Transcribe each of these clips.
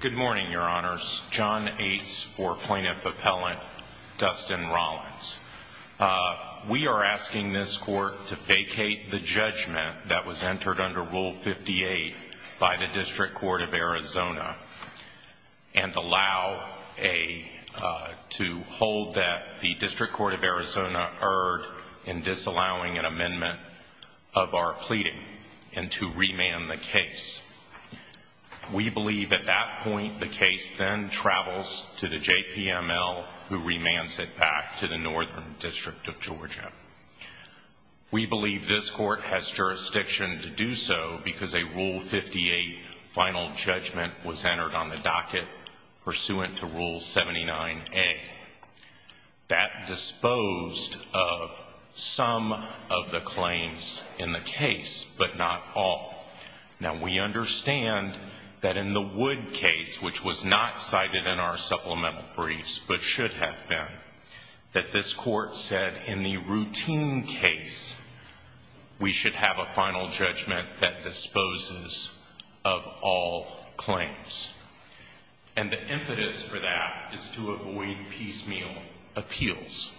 Good morning, your honors. John Ates or plaintiff appellant Dustin Rollins. We are asking this court to vacate the judgment that was entered under Rule 58 by the District Court of Arizona and allow a, to hold that the District Court of Arizona erred in disallowing an amendment of our pleading and to remand the case. We believe at that point the case then travels to the JPML who remands it back to the Northern District of Georgia. We believe this court has jurisdiction to do so because a Rule 58 final judgment was entered on the docket pursuant to Rule 79A. That disposed of some of the claims in the case, but not all. Now we understand that in the Wood case, which was not cited in our supplemental briefs, but should have been, that this court said in the routine case we should have a final judgment that the District Court of Arizona should have a final judgment. The reason for that is to avoid piecemeal appeals.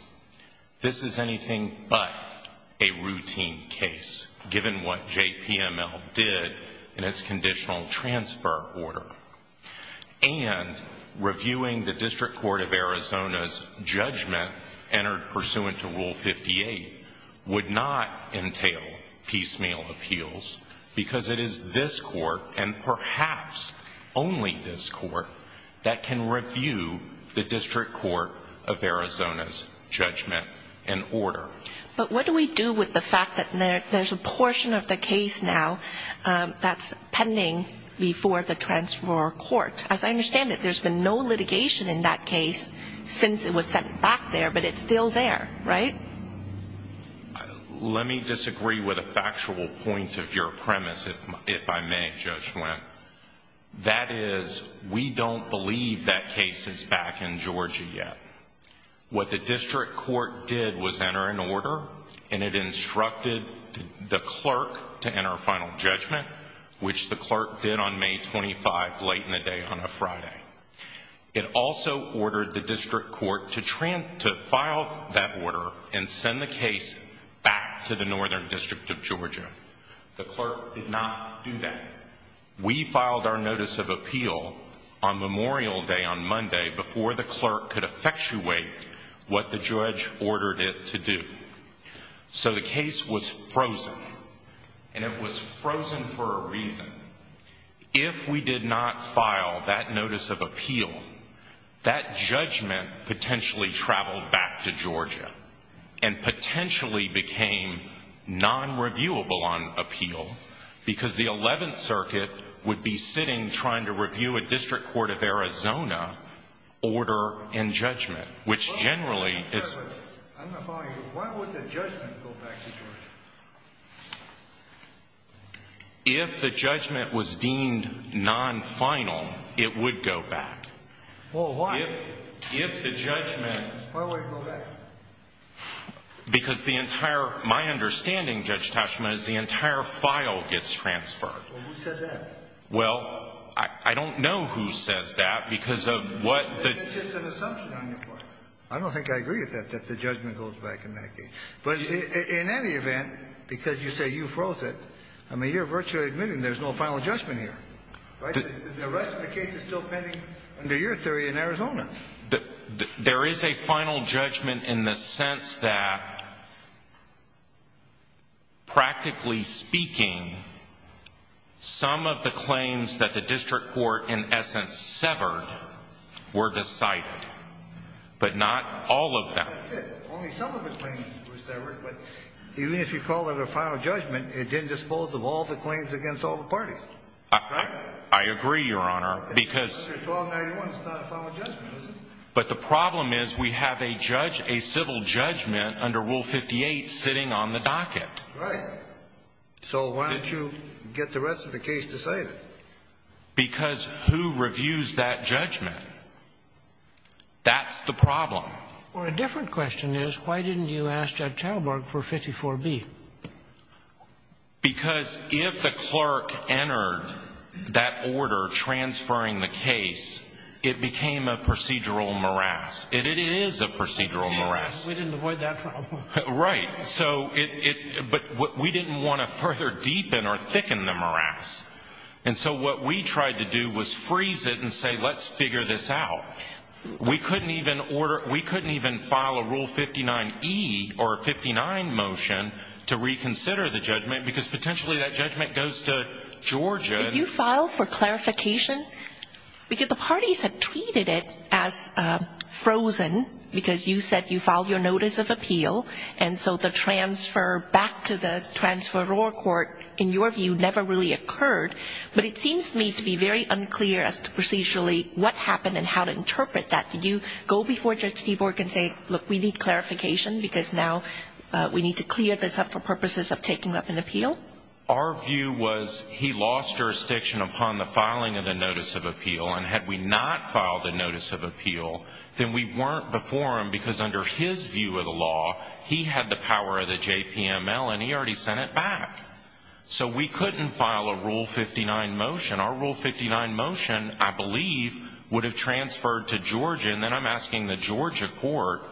This is anything but a routine case, given what JPML did in its conditional transfer order. And reviewing the District Court of Arizona's judgment entered pursuant to Rule 58 would not entail piecemeal appeals because it is this court and perhaps only this court that can review the District Court of Arizona's judgment and order. But what do we do with the fact that there's a portion of the case now that's pending before the transfer court? As I understand it, there's been no litigation in that case since it was sent back there, but it's still there, right? Let me disagree with a factual point of your premise, if I may, Judge Wendt. That is, we don't believe that case is back in Georgia yet. What the District Court did was enter an order, and it instructed the clerk to enter a final judgment, which the clerk did on May 25th, late in the day on a Friday. It also ordered the District Court to file that order and send the case back to the Northern District of Georgia. The clerk did not do that. We filed our notice of appeal on Memorial Day on Monday before the clerk could effectuate what the judge ordered it to do. So the case was frozen, and it was frozen for a reason. If we did not file that notice of appeal, that judgment potentially traveled back to Georgia and potentially became non-reviewable on appeal, because the 11th Circuit would be sitting trying to review a District Court of Arizona order and judgment, which generally is... I'm not following you. Why would the judgment go back to Georgia? If the judgment was deemed non-final, it would go back. Well, why? If the judgment... Why would it go back? Because the entire... My understanding, Judge Tashman, is the entire file gets transferred. Well, who said that? Well, I don't know who says that, because of what the... That's just an assumption on your part. I don't think I agree with that, that the judgment goes back in that case. But in any event, because you say you froze it, I mean, you're virtually admitting there's no final judgment here, right? The rest of the case is still pending under your theory in Arizona. There is a final judgment in the sense that, practically speaking, some of the claims that the District Court in essence severed were decided, but not all of them. Only some of the claims were severed, but even if you call that a final judgment, it didn't dispose of all the claims against all the parties, right? I agree, Your Honor, because... But the problem is we have a civil judgment under Rule 58 sitting on the docket. Right. So why don't you get the rest of the case decided? Because who reviews that judgment? That's the problem. Well, a different question is, why didn't you ask Ed Talbark for 54B? Because if the clerk entered that order transferring the case, it became a procedural morass. It is a procedural morass. We didn't avoid that problem. Right. But we didn't want to further deepen or thicken the morass. And so what we tried to do was freeze it and say, let's figure this out. We couldn't even file a Rule 59E motion to reconsider the judgment, because potentially that judgment goes to Georgia. Did you file for clarification? Because the parties had treated it as frozen, because you said you filed your notice of appeal, and so the transfer back to the transferor court, in your view, never really occurred. But it seems to me to be very unclear as to procedurally what happened and how to interpret that. Did you go before Judge Seaborg and say, look, we need clarification, because now we need to clear this up for purposes of taking up an appeal? Our view was he lost jurisdiction upon the filing of the notice of appeal. And had we not filed a notice of appeal, then we weren't before him, because under his view of the law, he had the power of the JPML, and he already sent it back. So we couldn't file a Rule 59 motion. Our Rule 59 motion, I believe, would have transferred to Georgia, and then I'm asking the Georgia court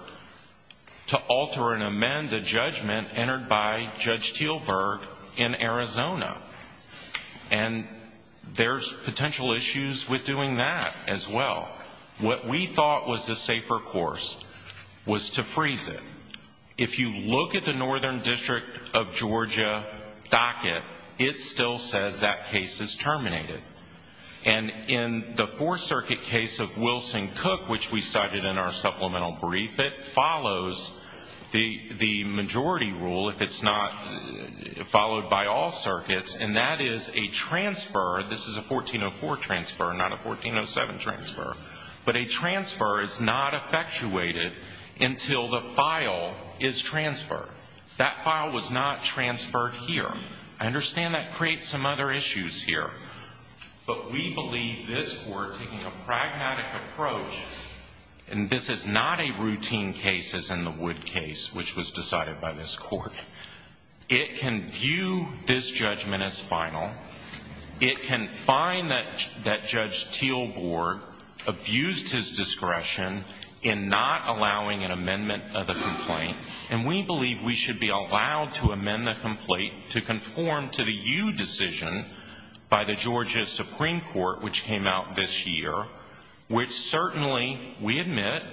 to alter and amend the judgment entered by Judge Teelberg in Arizona. And there's potential issues with doing that as well. What we thought was the safer course was to freeze it. If you look at the Northern District of Georgia docket, it still says that case is terminated. And in the Fourth Circuit case of Wilson Cook, which we cited in our supplemental brief, it follows the majority rule, if it's not followed by all circuits, and that is a transfer. This is a 1404 transfer, not a 1407 transfer. But a transfer is not effectuated until the file is transferred. That file was not transferred here. I understand that creates some other issues here. But we believe this Court, taking a pragmatic approach, and this is not a routine case as in the Wood case, which was decided by this Court, it can view this judgment as final. It can find that Judge Teelberg abused his discretion in not allowing an amendment of the complaint. And we believe we should be allowed to amend the complaint to conform to the U decision by the Georgia Supreme Court, which came out this year, which certainly, we admit,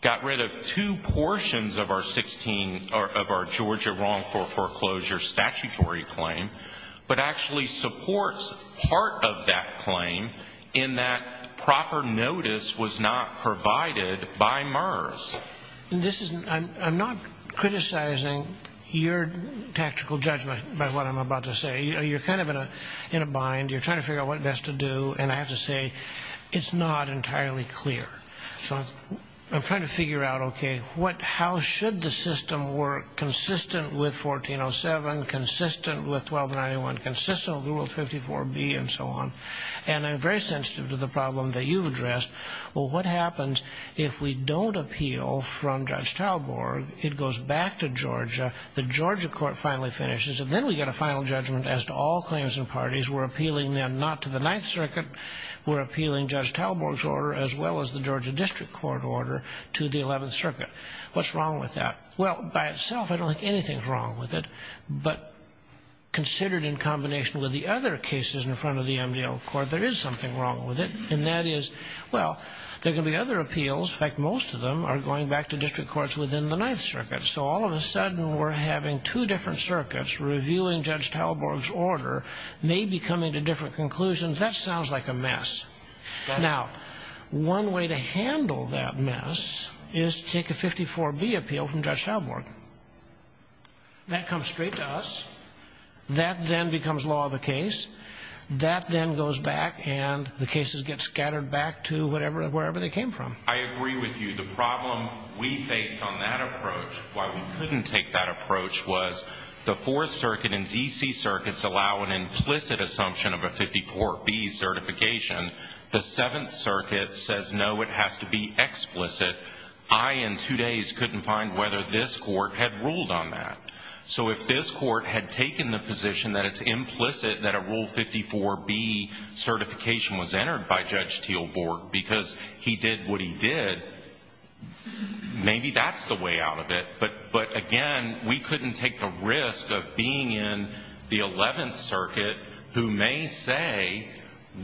got rid of two portions of our 16, of our Georgia wrongful foreclosure statutory claim, but actually supports part of that claim in that proper notice was not provided by MERS. I'm not criticizing your tactical judgment by what I'm about to say. You're kind of in a bind. You're trying to figure out what best to do. And I have to say, it's not entirely clear. So I'm trying to figure out, okay, how should the system work consistent with 1407, consistent with 1291, consistent with Rule 54B, and so on. And I'm very sensitive to the problem that you've addressed. Well, what happens if we don't appeal from Judge Teelberg, it goes back to Georgia, the Georgia court finally finishes, and then we get a final judgment as to all claims and parties. We're appealing them not to the Ninth Circuit. We're appealing Judge Teelberg's order as well as the Georgia District Court order to the Eleventh Circuit. What's wrong with that? Well, by itself, I don't think anything's wrong with it. But considered in combination with the other cases in front of the MDL court, there is something wrong with it. And that is, well, there are going to be other appeals. In fact, most of them are going back to district courts within the Ninth Circuit. So all of a sudden, we're having two different circuits reviewing Judge Teelberg's order, maybe coming to different conclusions. That sounds like a mess. Now, one way to handle that mess is to take a 54B appeal from Judge Teelberg. That comes back, and the cases get scattered back to wherever they came from. I agree with you. The problem we faced on that approach, why we couldn't take that approach, was the Fourth Circuit and D.C. circuits allow an implicit assumption of a 54B certification. The Seventh Circuit says, no, it has to be explicit. I, in two days, couldn't find whether this court had ruled on that. So if this court had taken the position that it's implicit that a Rule 54B certification was entered by Judge Teelberg because he did what he did, maybe that's the way out of it. But again, we couldn't take the risk of being in the Eleventh Circuit who may say,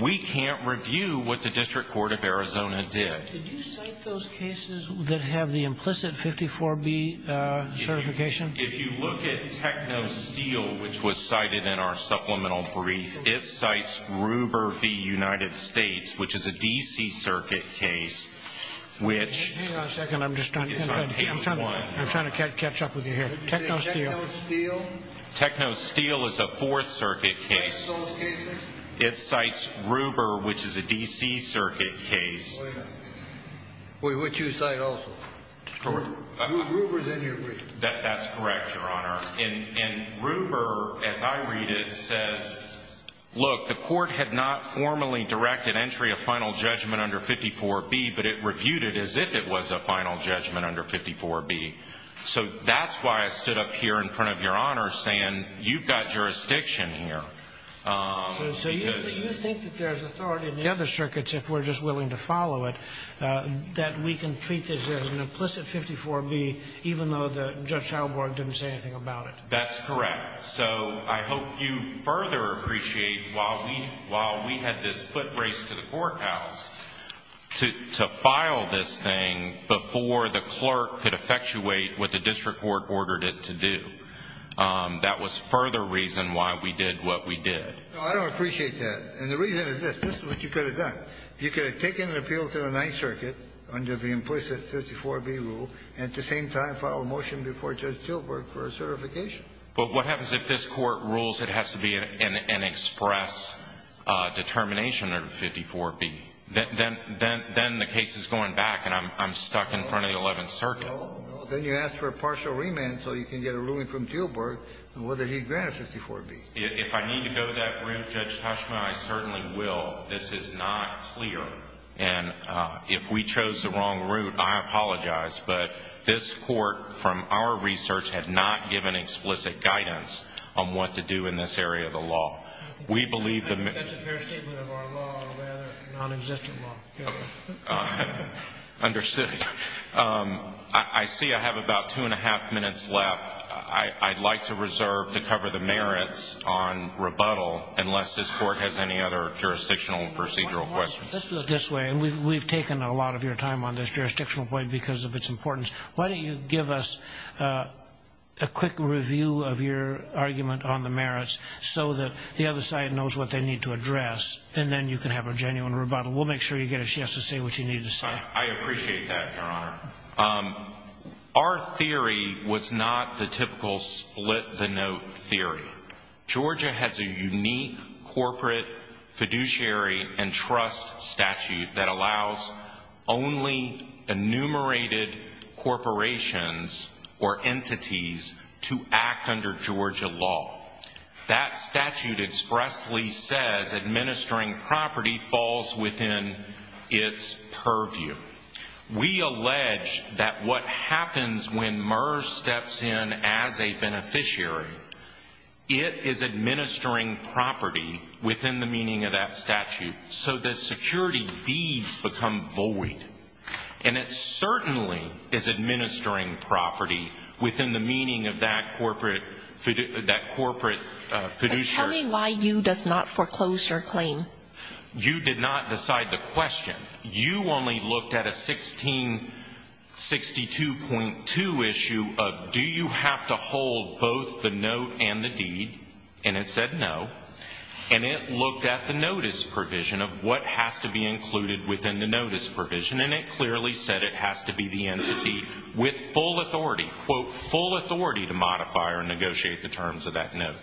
we can't review what the District Court of Arizona did. Did you cite those cases that have the implicit 54B certification? If you look at TechnoSteel, which was cited in our supplemental brief, it cites Ruber v. United States, which is a D.C. circuit case, which... Hang on a second. I'm just trying to catch up with you here. TechnoSteel. TechnoSteel is a Fourth Circuit case. It cites Ruber, which is a D.C. circuit case. Which you cite also. Ruber's in your brief. That's correct, Your Honor. And Ruber, as I read it, says, look, the court had not formally directed entry of final judgment under 54B, but it reviewed it as if it was a final judgment under 54B. So that's why I stood up here in front of Your Honor saying, you've got jurisdiction here. So you think that there's authority in the other circuits, if we're just willing to follow it, that we can treat this as an implicit 54B, even though Judge Schauberg didn't say anything about it? That's correct. So I hope you further appreciate, while we had this foot race to the courthouse, to file this thing before the clerk could effectuate what the district court ordered it to do. That was further reason why we did what we did. No, I don't appreciate that. And the reason is this. This is what you could have done. You could have taken an appeal to the Ninth Circuit under the implicit 54B rule and at the same time filed a motion before Judge Tilburg for a certification. But what happens if this court rules it has to be an express determination under 54B? Then the case is going back, and I'm stuck in front of the Eleventh Circuit. Then you ask for a partial remand so you can get a ruling from Tilburg on whether he'd grant a 54B. If I need to go that route, Judge Tushma, I certainly will. This is not clear. And if we chose the wrong route, I apologize. But this court, from our research, had not given explicit guidance on what to do in this area of the law. I think that's a fair statement of our law, rather non-existent law. Understood. I see I have about two and a half minutes left. I'd like to reserve to cover the merits on rebuttal unless this court has any other jurisdictional procedural questions. Let's put it this way. We've taken a lot of your time on this jurisdictional point because of its importance. Why don't you give us a quick review of your argument on the merits so that the other side knows what they need to address, and then you can have a genuine rebuttal. We'll make sure you get a yes to say what you need to say. I appreciate that, Your Honor. Our theory was not the typical split-the-note theory. Georgia has a unique corporate fiduciary and trust statute that allows only enumerated corporations or entities to act under Georgia law. That statute expressly says administering property falls within its purview. We allege that what happens when MERS steps in as a beneficiary, it is administering property within the meaning of that statute, so the security deeds become void. And it certainly is administering property within the meaning of that corporate fiduciary. Tell me why you did not foreclose your claim. You did not decide the question. You only looked at a 1662.2 issue of do you have to hold both the note and the deed, and it said no. And it looked at the notice provision of what has to be included within the notice provision, and it clearly said it has to be the entity with full authority, quote, full authority to modify or negotiate the terms of that note.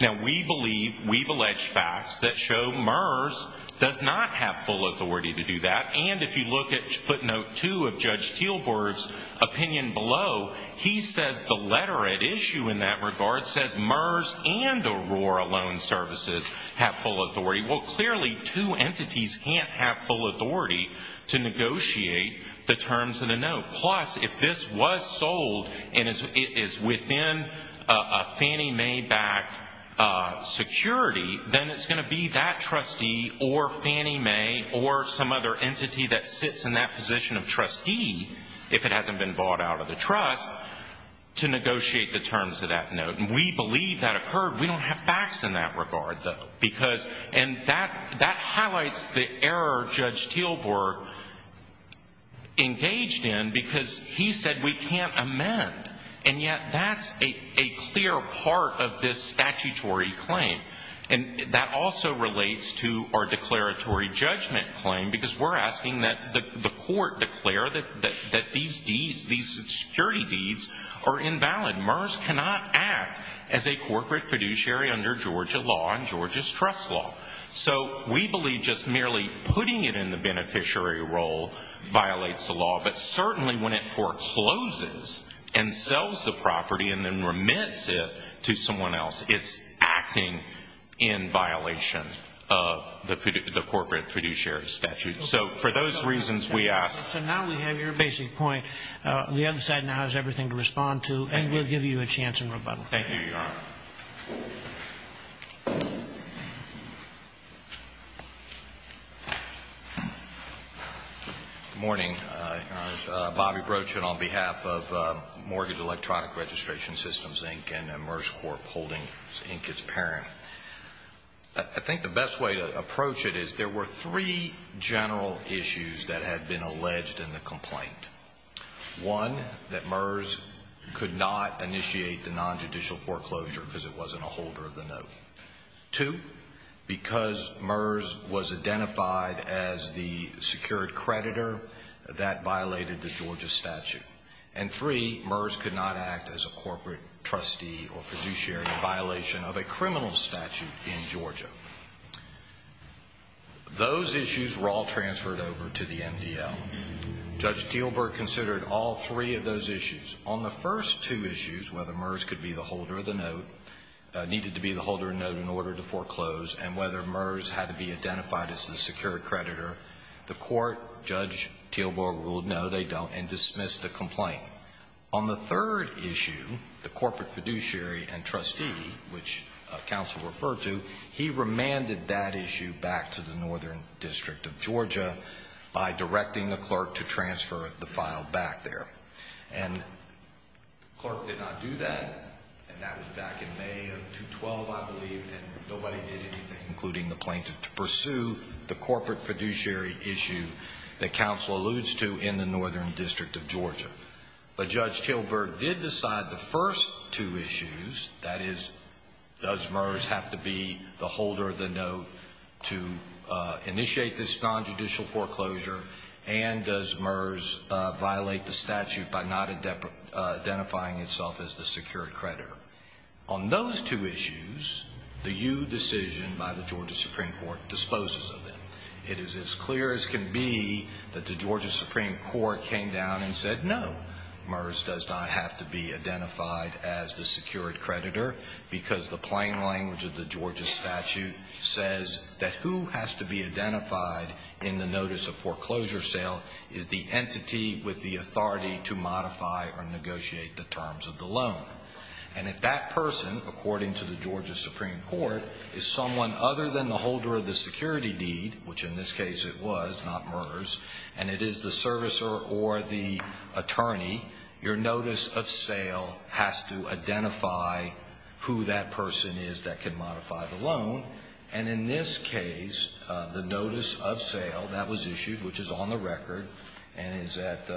Now, we believe, we have alleged facts that show MERS does not have full authority to do that, and if you look at footnote two of Judge Teelburg's opinion below, he says the letter at issue in that regard says MERS and Aurora Loan Services have full authority. Well, clearly two entities cannot have full authority to negotiate the terms of the note, and if it's within a Fannie Mae-backed security, then it's going to be that trustee or Fannie Mae or some other entity that sits in that position of trustee, if it hasn't been bought out of the trust, to negotiate the terms of that note. And we believe that occurred. We don't have facts in that regard, though, because, and that highlights the error Judge Teelburg engaged in because he said we can't amend, and yet that's a clear part of this statutory claim. And that also relates to our declaratory judgment claim because we're asking that the court declare that these deeds, these security deeds are invalid. MERS cannot act as a corporate fiduciary under Georgia law and Georgia's trust law. So we believe just merely putting it in the beneficiary role violates the law, but certainly when it forecloses and sells the property and then remits it to someone else, it's acting in violation of the corporate fiduciary statute. So for those reasons we ask. So now we have your basic point. The other side now has everything to respond to, and we'll give you a chance in rebuttal. Thank you, Your Honor. Good morning, Your Honor. Bobby Brochin on behalf of Mortgage Electronic Registration Systems, Inc. and MERS Corp. holding Inc. its parent. I think the best way to approach it is there were three general issues that had been alleged in the complaint. One, that MERS could not initiate the nonjudicial foreclosure because it wasn't a holder of the note. Two, because MERS was identified as the secured creditor, that violated the Georgia statute. And three, MERS could not act as a corporate trustee or fiduciary in violation of a criminal statute in Georgia. Those issues were all transferred over to the MDL. Judge Steelberg considered all three of those issues. On the first two issues, whether MERS could be the holder of the note, needed to be the holder of the note in order to foreclose, and whether MERS had to be identified as the secured creditor, the court, Judge Steelberg ruled no, they don't, and dismissed the complaint. On the third issue, the corporate fiduciary and trustee, which counsel referred to, he remanded that issue back to the Northern District of Georgia by directing the clerk did not do that, and that was back in May of 2012, I believe, and nobody did anything, including the plaintiff, to pursue the corporate fiduciary issue that counsel alludes to in the Northern District of Georgia. But Judge Steelberg did decide the first two issues, that is, does MERS have to be the holder of the note to initiate this nonjudicial foreclosure, and does MERS violate the statute for identifying itself as the secured creditor? On those two issues, the Ewe decision by the Georgia Supreme Court disposes of them. It is as clear as can be that the Georgia Supreme Court came down and said no, MERS does not have to be identified as the secured creditor, because the plain language of the Georgia statute says that who has to be identified in the notice of foreclosure sale is the person who can modify the loan or negotiate the terms of the loan. And if that person, according to the Georgia Supreme Court, is someone other than the holder of the security deed, which in this case it was, not MERS, and it is the servicer or the attorney, your notice of sale has to identify who that person is that can modify the loan. And in this case, the notice of sale, that was issued, which is on the record, and is at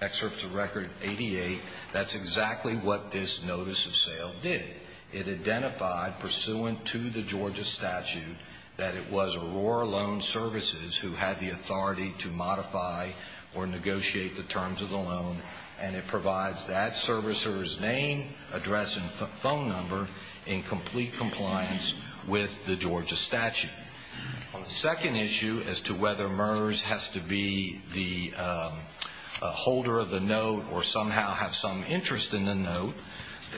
excerpts of record 88, that's exactly what this notice of sale did. It identified, pursuant to the Georgia statute, that it was Aurora Loan Services who had the authority to modify or negotiate the terms of the loan, and it provides that servicer's name, address, and phone number in complete compliance with the Georgia statute. On the second issue, as to whether MERS has to be the holder of the note or somehow have some interest in the note,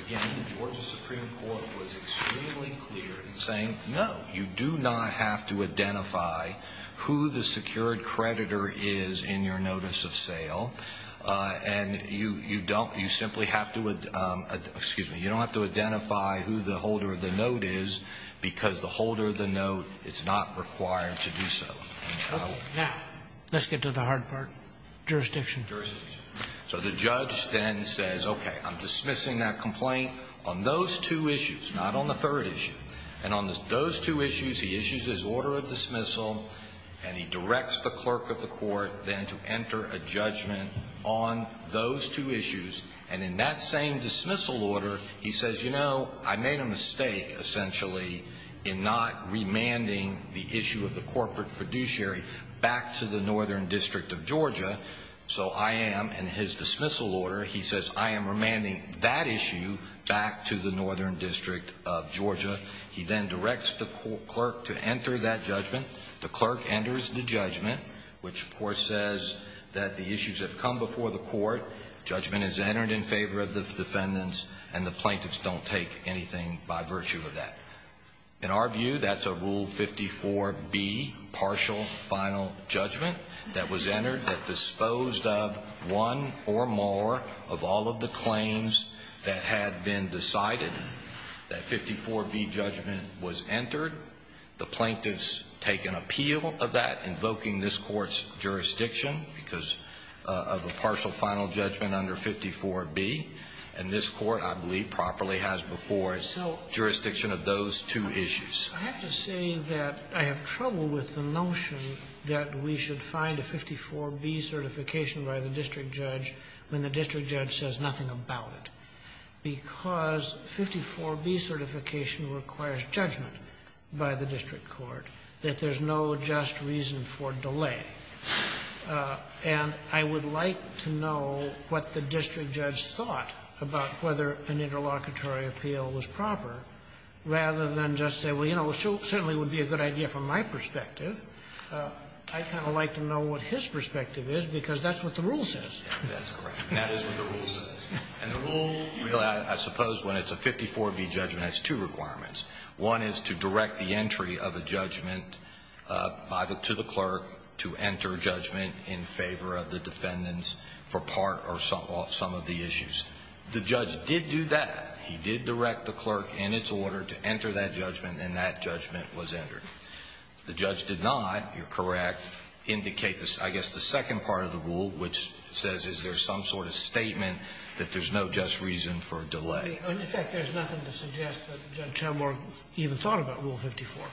again, the Georgia Supreme Court was extremely clear in saying, no, you do not have to identify who the secured creditor is in your notice of sale, and you don't, you simply have to, excuse me, you don't have to identify who the holder of the note is, because the holder of the note is not required to do so. Now, let's get to the hard part. Jurisdiction. So the judge then says, okay, I'm dismissing that complaint on those two issues, not on the third issue. And on those two issues, he issues his order of dismissal, and he directs the clerk of the court then to enter a judgment on those two issues. And in that same dismissal order, he says, you know, I made a mistake, essentially, in not remanding the issue of the corporate fiduciary back to the northern district of Georgia. So I am, in his dismissal order, he says, I am remanding that issue back to the northern district of Georgia. He then directs the clerk to enter that judgment. The clerk enters the judgment, which, of course, says that the issues have come before the court, judgment has entered in favor of the defendants, and the plaintiffs don't take anything by virtue of that. In our view, that's a Rule 54B partial final judgment that was entered that disposed of one or more of all of the claims that had been decided. That 54B judgment was entered. The plaintiffs take an appeal of that, invoking this Court's jurisdiction because of a partial final judgment under 54B, and this Court, I believe, properly has before its jurisdiction of those two issues. I have to say that I have trouble with the notion that we should find a 54B certification by the district judge when the district judge says nothing about it. Because 54B certification requires judgment by the district court, that there's no just reason for delay. And I would like to know what the district judge thought about whether an interlocutory appeal was proper, rather than just say, well, you know, it certainly would be a good idea from my perspective. I'd kind of like to know what his perspective is, because that's what the Rule says. That's correct. That is what the Rule says. And the Rule, I suppose, when it's a 54B judgment, has two requirements. One is to direct the entry of a judgment to the clerk to enter judgment in favor of the defendants for part or some of the issues. The judge did do that. He did direct the clerk in its order to enter that judgment, and that judgment was entered. The judge did not, you're correct, indicate, I guess, the second part of the Rule, which says is there some sort of statement that there's no just reason for delay. I mean, in fact, there's nothing to suggest that Judge Chalmers even thought about Rule 54.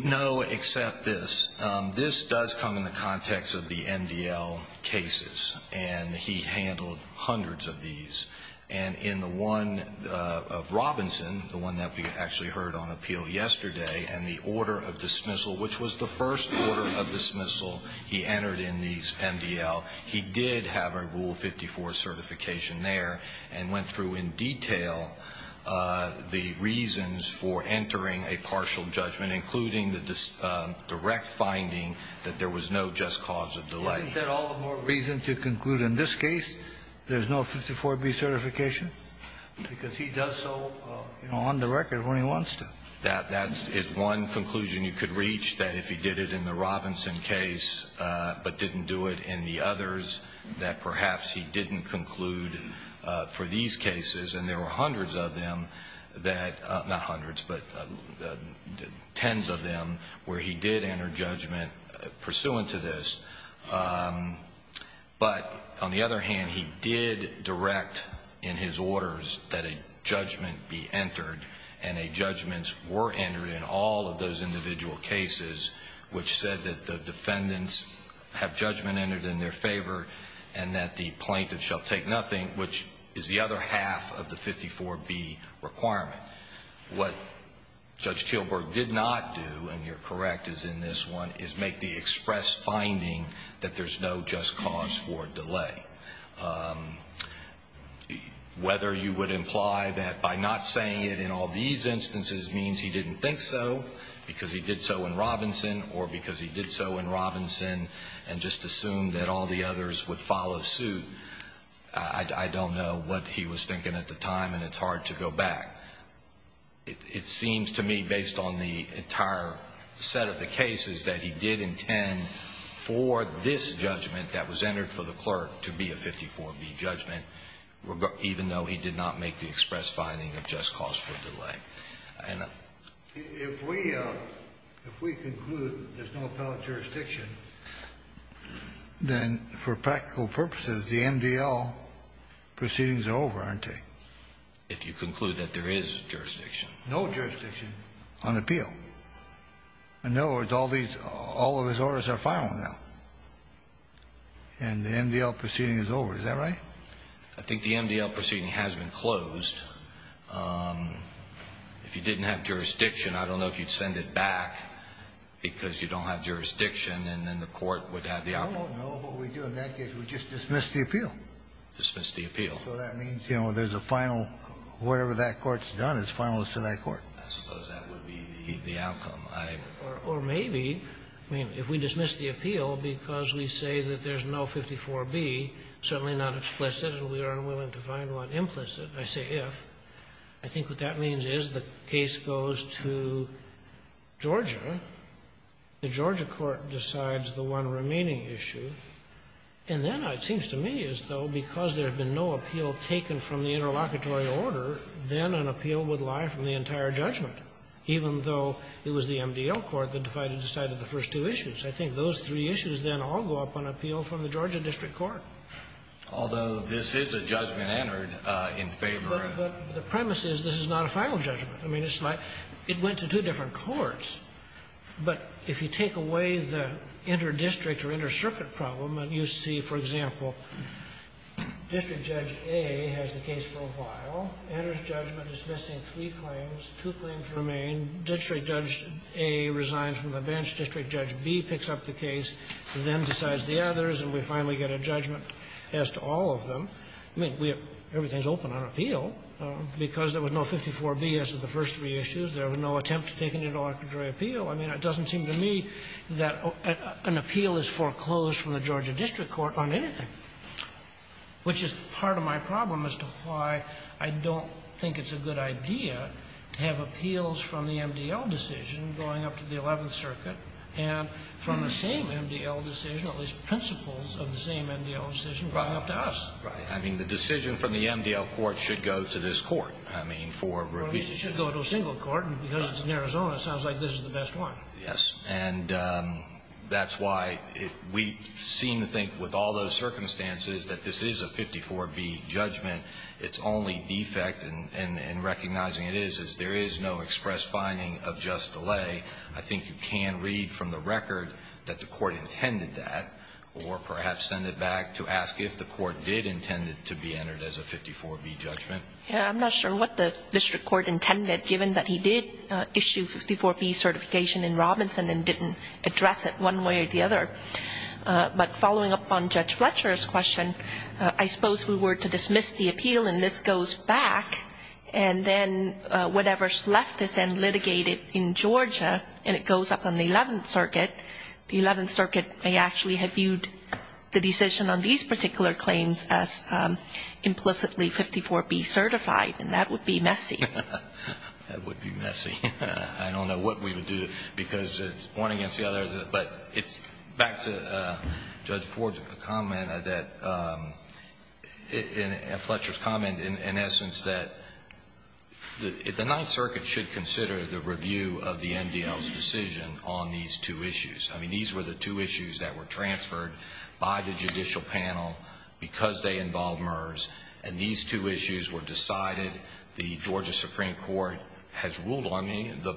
No, except this. This does come in the context of the MDL cases, and he handled hundreds of these. And in the one of Robinson, the one that we actually heard on appeal yesterday, and the order of dismissal, which was the first order of dismissal he entered in these MDL, he did have a Rule 54 certification there and went through in detail the reasons for entering a partial judgment, including the direct finding that there was no just cause of delay. Isn't that all the more reason to conclude in this case there's no 54B certification? Because he does so, you know, on the record when he wants to. That is one conclusion you could reach, that if he did it in the Robinson case but didn't do it in the others, that perhaps he didn't conclude for these cases. And there were hundreds of them that, not hundreds, but tens of them, where he did enter judgment pursuant to this. But on the other hand, he did direct in his orders that a judgment be entered, and judgments were entered in all of those individual cases, which said that the direct judgment entered in their favor and that the plaintiff shall take nothing, which is the other half of the 54B requirement. What Judge Teelburg did not do, and you're correct as in this one, is make the express finding that there's no just cause for delay. Whether you would imply that by not saying it in all these instances means he didn't think so because he did so in Robinson or because he did so in Robinson and just assumed that all the others would follow suit, I don't know what he was thinking at the time and it's hard to go back. It seems to me, based on the entire set of the cases, that he did intend for this judgment that was entered for the clerk to be a 54B judgment, even though he did not make the express finding of just cause for delay. I don't know. If we conclude there's no appellate jurisdiction, then for practical purposes, the MDL proceedings are over, aren't they? If you conclude that there is jurisdiction. No jurisdiction on appeal. In other words, all of his orders are final now and the MDL proceeding is over. Is that right? I think the MDL proceeding has been closed. If you didn't have jurisdiction, I don't know if you'd send it back because you don't have jurisdiction and then the court would have the outcome. No, no. What we do in that case, we just dismiss the appeal. Dismiss the appeal. So that means, you know, there's a final. Whatever that court's done is final to that court. I suppose that would be the outcome. Or maybe, I mean, if we dismiss the appeal because we say that there's no 54B, certainly not explicit and we are unwilling to find one implicit. I say if. I think what that means is the case goes to Georgia. The Georgia court decides the one remaining issue. And then it seems to me as though because there had been no appeal taken from the interlocutory order, then an appeal would lie from the entire judgment, even though it was the MDL court that decided the first two issues. I think those three issues then all go up on appeal from the Georgia district court. Although this is a judgment entered in favor of the court. But the premise is this is not a final judgment. I mean, it's like it went to two different courts. But if you take away the interdistrict or intercircuit problem, you see, for example, District Judge A has the case for a while, enters judgment dismissing three claims. Two claims remain. District Judge A resigns from the bench. District Judge B picks up the case, then decides the others, and we finally get a judgment as to all of them. I mean, everything is open on appeal. Because there was no 54B as to the first three issues, there was no attempt to take an interlocutory appeal. I mean, it doesn't seem to me that an appeal is foreclosed from the Georgia district court on anything, which is part of my problem as to why I don't think it's a good idea to have appeals from the MDL decision going up to the Eleventh Circuit, and from the same MDL decision, at least principles of the same MDL decision, going up to us. Right. I mean, the decision from the MDL court should go to this court. I mean, for review. Well, at least it should go to a single court. And because it's in Arizona, it sounds like this is the best one. Yes. And that's why we seem to think with all those circumstances that this is a 54B judgment. It's only defect in recognizing it is, is there is no express finding of just delay. I think you can read from the record that the court intended that, or perhaps send it back to ask if the court did intend it to be entered as a 54B judgment. I'm not sure what the district court intended, given that he did issue 54B certification in Robinson and didn't address it one way or the other. But following up on Judge Fletcher's question, I suppose if we were to dismiss the appeal and this goes back, and then whatever's left is then litigated in Georgia, and it goes up on the Eleventh Circuit, the Eleventh Circuit may actually have viewed the decision on these particular claims as implicitly 54B certified, and that would be messy. That would be messy. I don't know what we would do because it's one against the other, but it's back to Judge Ford's comment that, and Fletcher's comment in essence, that the Ninth Circuit should consider the review of the MDL's decision on these two issues. I mean, these were the two issues that were transferred by the judicial panel because they involved MERS, and these two issues were decided. The Georgia Supreme Court has ruled on me. The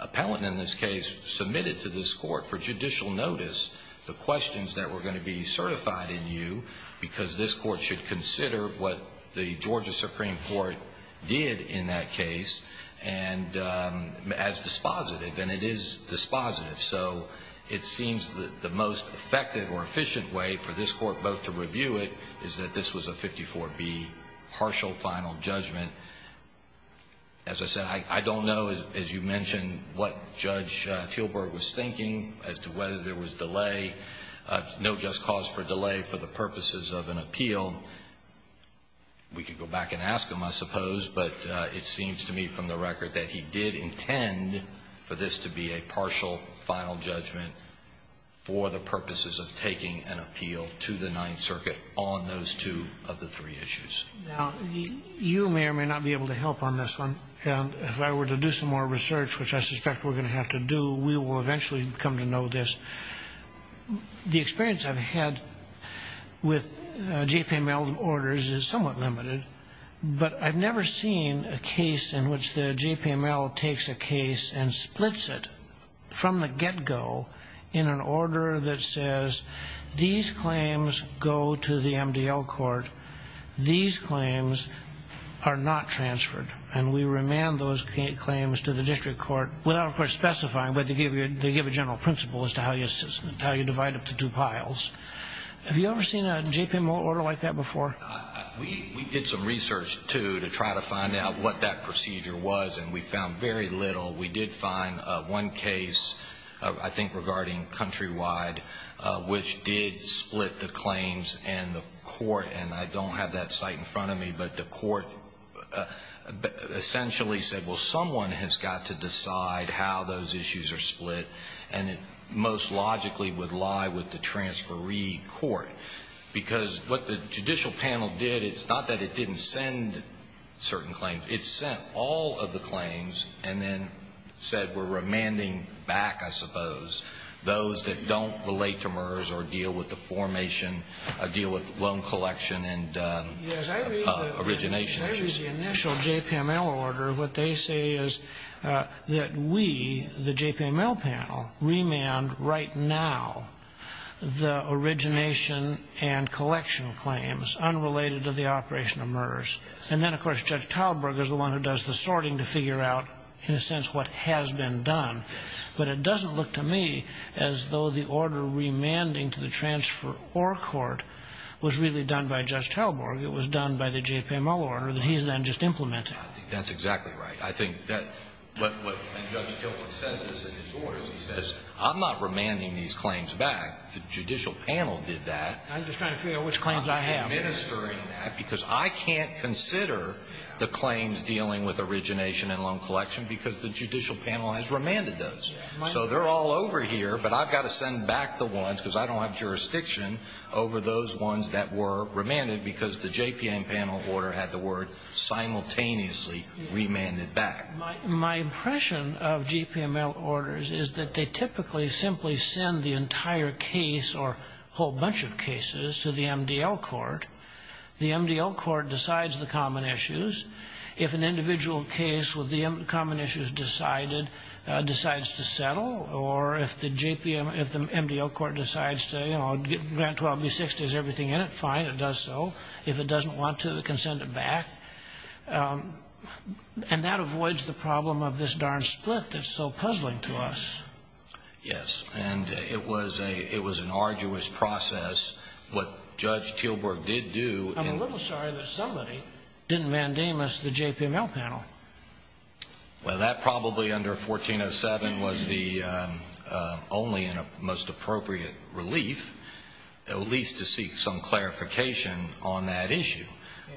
appellant in this case submitted to this court for judicial notice the questions that were going to be certified in you because this court should consider what the Georgia Supreme Court did in that case as dispositive, and it is dispositive. So it seems that the most effective or efficient way for this court both to review it is that this was a 54B partial final judgment. As I said, I don't know, as you mentioned, what Judge Teelburg was thinking as to whether there was delay, no just cause for delay for the purposes of an appeal. We could go back and ask him, I suppose, but it seems to me from the record that he did intend for this to be a partial final judgment for the purposes of taking an appeal to the Ninth Circuit on those two of the three issues. Now, you may or may not be able to help on this one, and if I were to do some more research, which I suspect we're going to have to do, we will eventually come to know this. The experience I've had with JPML orders is somewhat limited, but I've never seen a case in which the JPML takes a case and splits it from the get-go in an order that says these claims go to the MDL court, these claims are not transferred, and we remand those claims to the district court without, of course, specifying, but they give a general principle as to how you divide up the two piles. Have you ever seen a JPML order like that before? We did some research, too, to try to find out what that procedure was, and we found very little. We did find one case, I think regarding countrywide, which did split the claims and the court, and I don't have that site in front of me, but the court essentially said, well, someone has got to decide how those issues are split, and it most logically would lie with the transferee court, because what the judicial panel did, it's not that it didn't send certain claims, it sent all of the claims and then said we're remanding back, I suppose, those that don't relate to MERS or deal with the formation, deal with loan collection and origination issues. I read the initial JPML order. What they say is that we, the JPML panel, remand right now the origination and collection claims unrelated to the operation of MERS. And then, of course, Judge Talborg is the one who does the sorting to figure out, in a sense, what has been done, but it doesn't look to me as though the order remanding to the transferor court was really done by Judge Talborg. It was done by the JPML order that he's then just implemented. I think that's exactly right. I think that what Judge Gilbert says in his orders, he says I'm not remanding these claims back. The judicial panel did that. I'm just trying to figure out which claims I have. Because I can't consider the claims dealing with origination and loan collection because the judicial panel has remanded those. So they're all over here, but I've got to send back the ones because I don't have jurisdiction over those ones that were remanded because the JPM panel order had the word simultaneously remanded back. My impression of JPML orders is that they typically simply send the entire case or a whole bunch of cases to the MDL court. The MDL court decides the common issues. If an individual case with the common issues decided, decides to settle, or if the MDL court decides to grant 12B6, there's everything in it, fine, it does so. If it doesn't want to, it can send it back. And that avoids the problem of this darn split that's so puzzling to us. Yes, and it was an arduous process. What Judge Tilburg did do I'm a little sorry that somebody didn't mandamus the JPML panel. Well, that probably under 1407 was the only and most appropriate relief, at least to seek some clarification on that issue.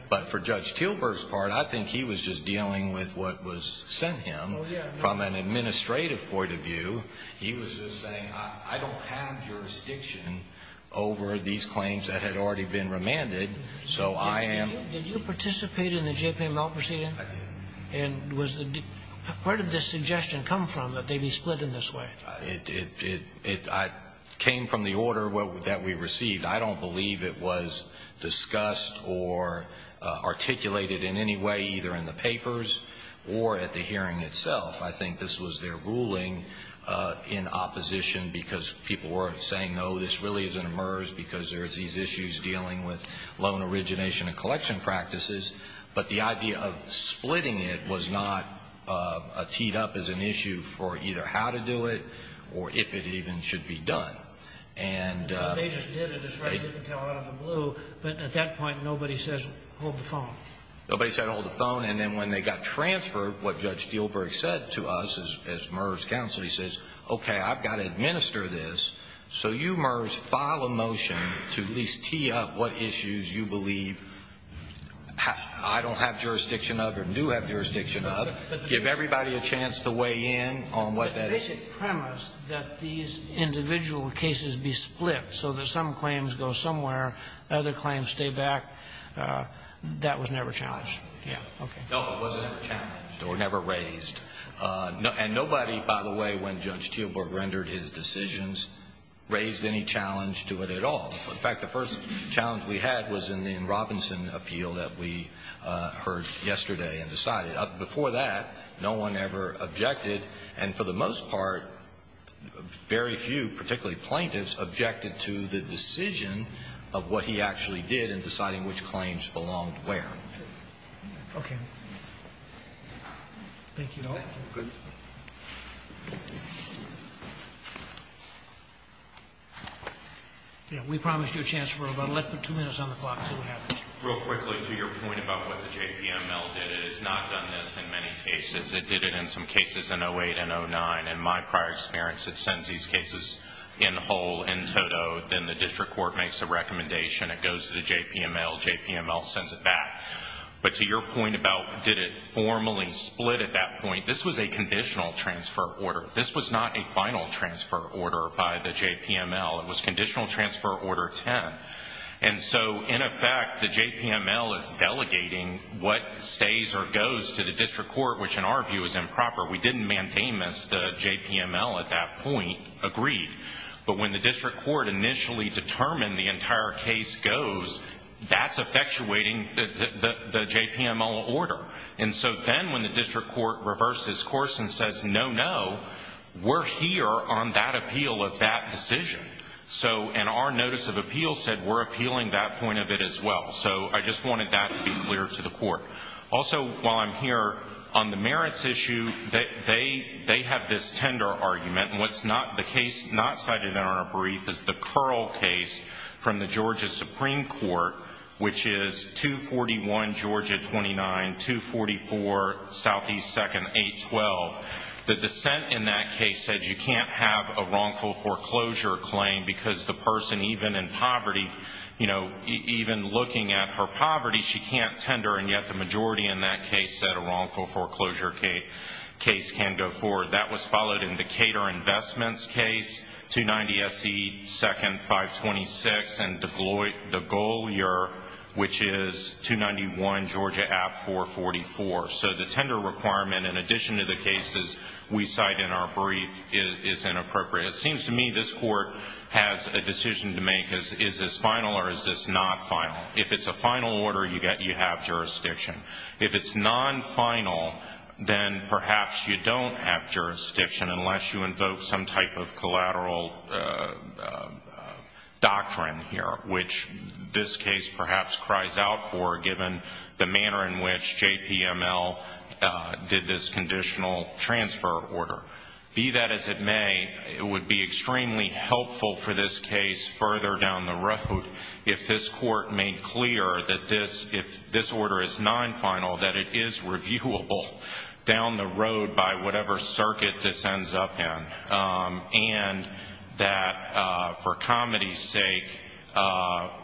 But for Judge Tilburg's part, I think he was just dealing with what was sent him. From an administrative point of view, he was just saying, I don't have jurisdiction over these claims that had already been remanded. So I am Did you participate in the JPML proceeding? And where did this suggestion come from, that they be split in this way? It came from the order that we received. I don't believe it was discussed or articulated in any way, either in the papers or at the hearing itself. I think this was their ruling in opposition, because people were saying, no, this really isn't a MERS, because there's these issues dealing with loan origination and collection practices. But the idea of splitting it was not teed up as an issue for either how to do it or if it even should be done. They just did it, as you can tell out of the blue. But at that point, nobody says, hold the phone. Nobody said, hold the phone. And then when they got transferred, what Judge Tilburg said to us as MERS counsel, he says, okay, I've got to administer this. So you, MERS, file a motion to at least tee up what issues you believe I don't have jurisdiction of or do have jurisdiction of. Give everybody a chance to weigh in on what that is. The basic premise that these individual cases be split so that some claims go somewhere, other claims stay back, that was never challenged. No, it was never challenged or never raised. And nobody, by the way, when Judge Tilburg rendered his decisions, raised any challenge to it at all. In fact, the first challenge we had was in the Robinson appeal that we heard yesterday and decided. Before that, no one ever objected. And for the most part, very few, particularly plaintiffs, objected to the decision of what he actually did in deciding which claims belonged where. Okay. Thank you, though. Good. We promised you a chance for about two minutes on the clock. Real quickly, to your point about what the JPML did, it has not done this in many cases. It did it in some cases in 2008 and 2009. In my prior experience, it sends these cases in whole, in toto. Then the district court makes a recommendation. It goes to the JPML. JPML sends it back. But to your point about did it formally split at that point, this was a conditional transfer order. This was not a final transfer order by the JPML. It was conditional transfer order 10. And so, in effect, the JPML is delegating what stays or goes to the district court, which in our view is improper. We didn't mandate this. The JPML at that point agreed. But when the district court initially determined the entire case goes, that's effectuating the JPML order. And so then when the district court reverses course and says, no, no, we're here on that appeal of that decision, and our notice of appeal said we're appealing that point of it as well. So I just wanted that to be clear to the court. Also, while I'm here, on the merits issue, they have this tender argument, and what's not the case not cited in our brief is the Curl case from the Georgia Supreme Court, which is 241 Georgia 29, 244 Southeast 2nd 812. The dissent in that case said you can't have a wrongful foreclosure claim because the person, even in poverty, even looking at her poverty, she can't tender, and yet the majority in that case said a wrongful foreclosure case can go forward. That was followed in the Cater Investments case, 290 SE 2nd 526, and the Golier, which is 291 Georgia 444. So the tender requirement, in addition to the cases we cite in our brief, is inappropriate. It seems to me this court has a decision to make. Is this final or is this not final? If it's a final order, you have jurisdiction. If it's non-final, then perhaps you don't have jurisdiction unless you invoke some type of collateral doctrine here, which this case perhaps cries out for given the manner in which JPML did this conditional transfer order. Be that as it may, it would be extremely helpful for this case further down the road if this court made clear that if this order is non-final, that it is reviewable down the road by whatever circuit this ends up in, and that for comedy's sake,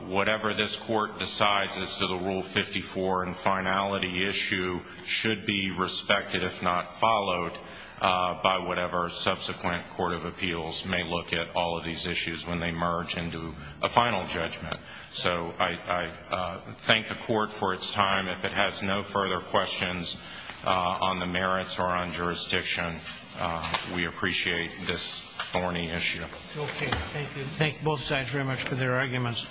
whatever this court decides as to the Rule 54 and finality issue should be respected if not followed by whatever subsequent court of appeals may look at all of these issues when they merge into a final judgment. So I thank the court for its time. If it has no further questions on the merits or on jurisdiction, we appreciate this thorny issue. Okay, thank you. Thank both sides very much for their arguments.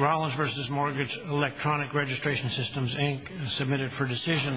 Rollins v. Mortgage Electronic Registration Systems, Inc. Submitted for decision.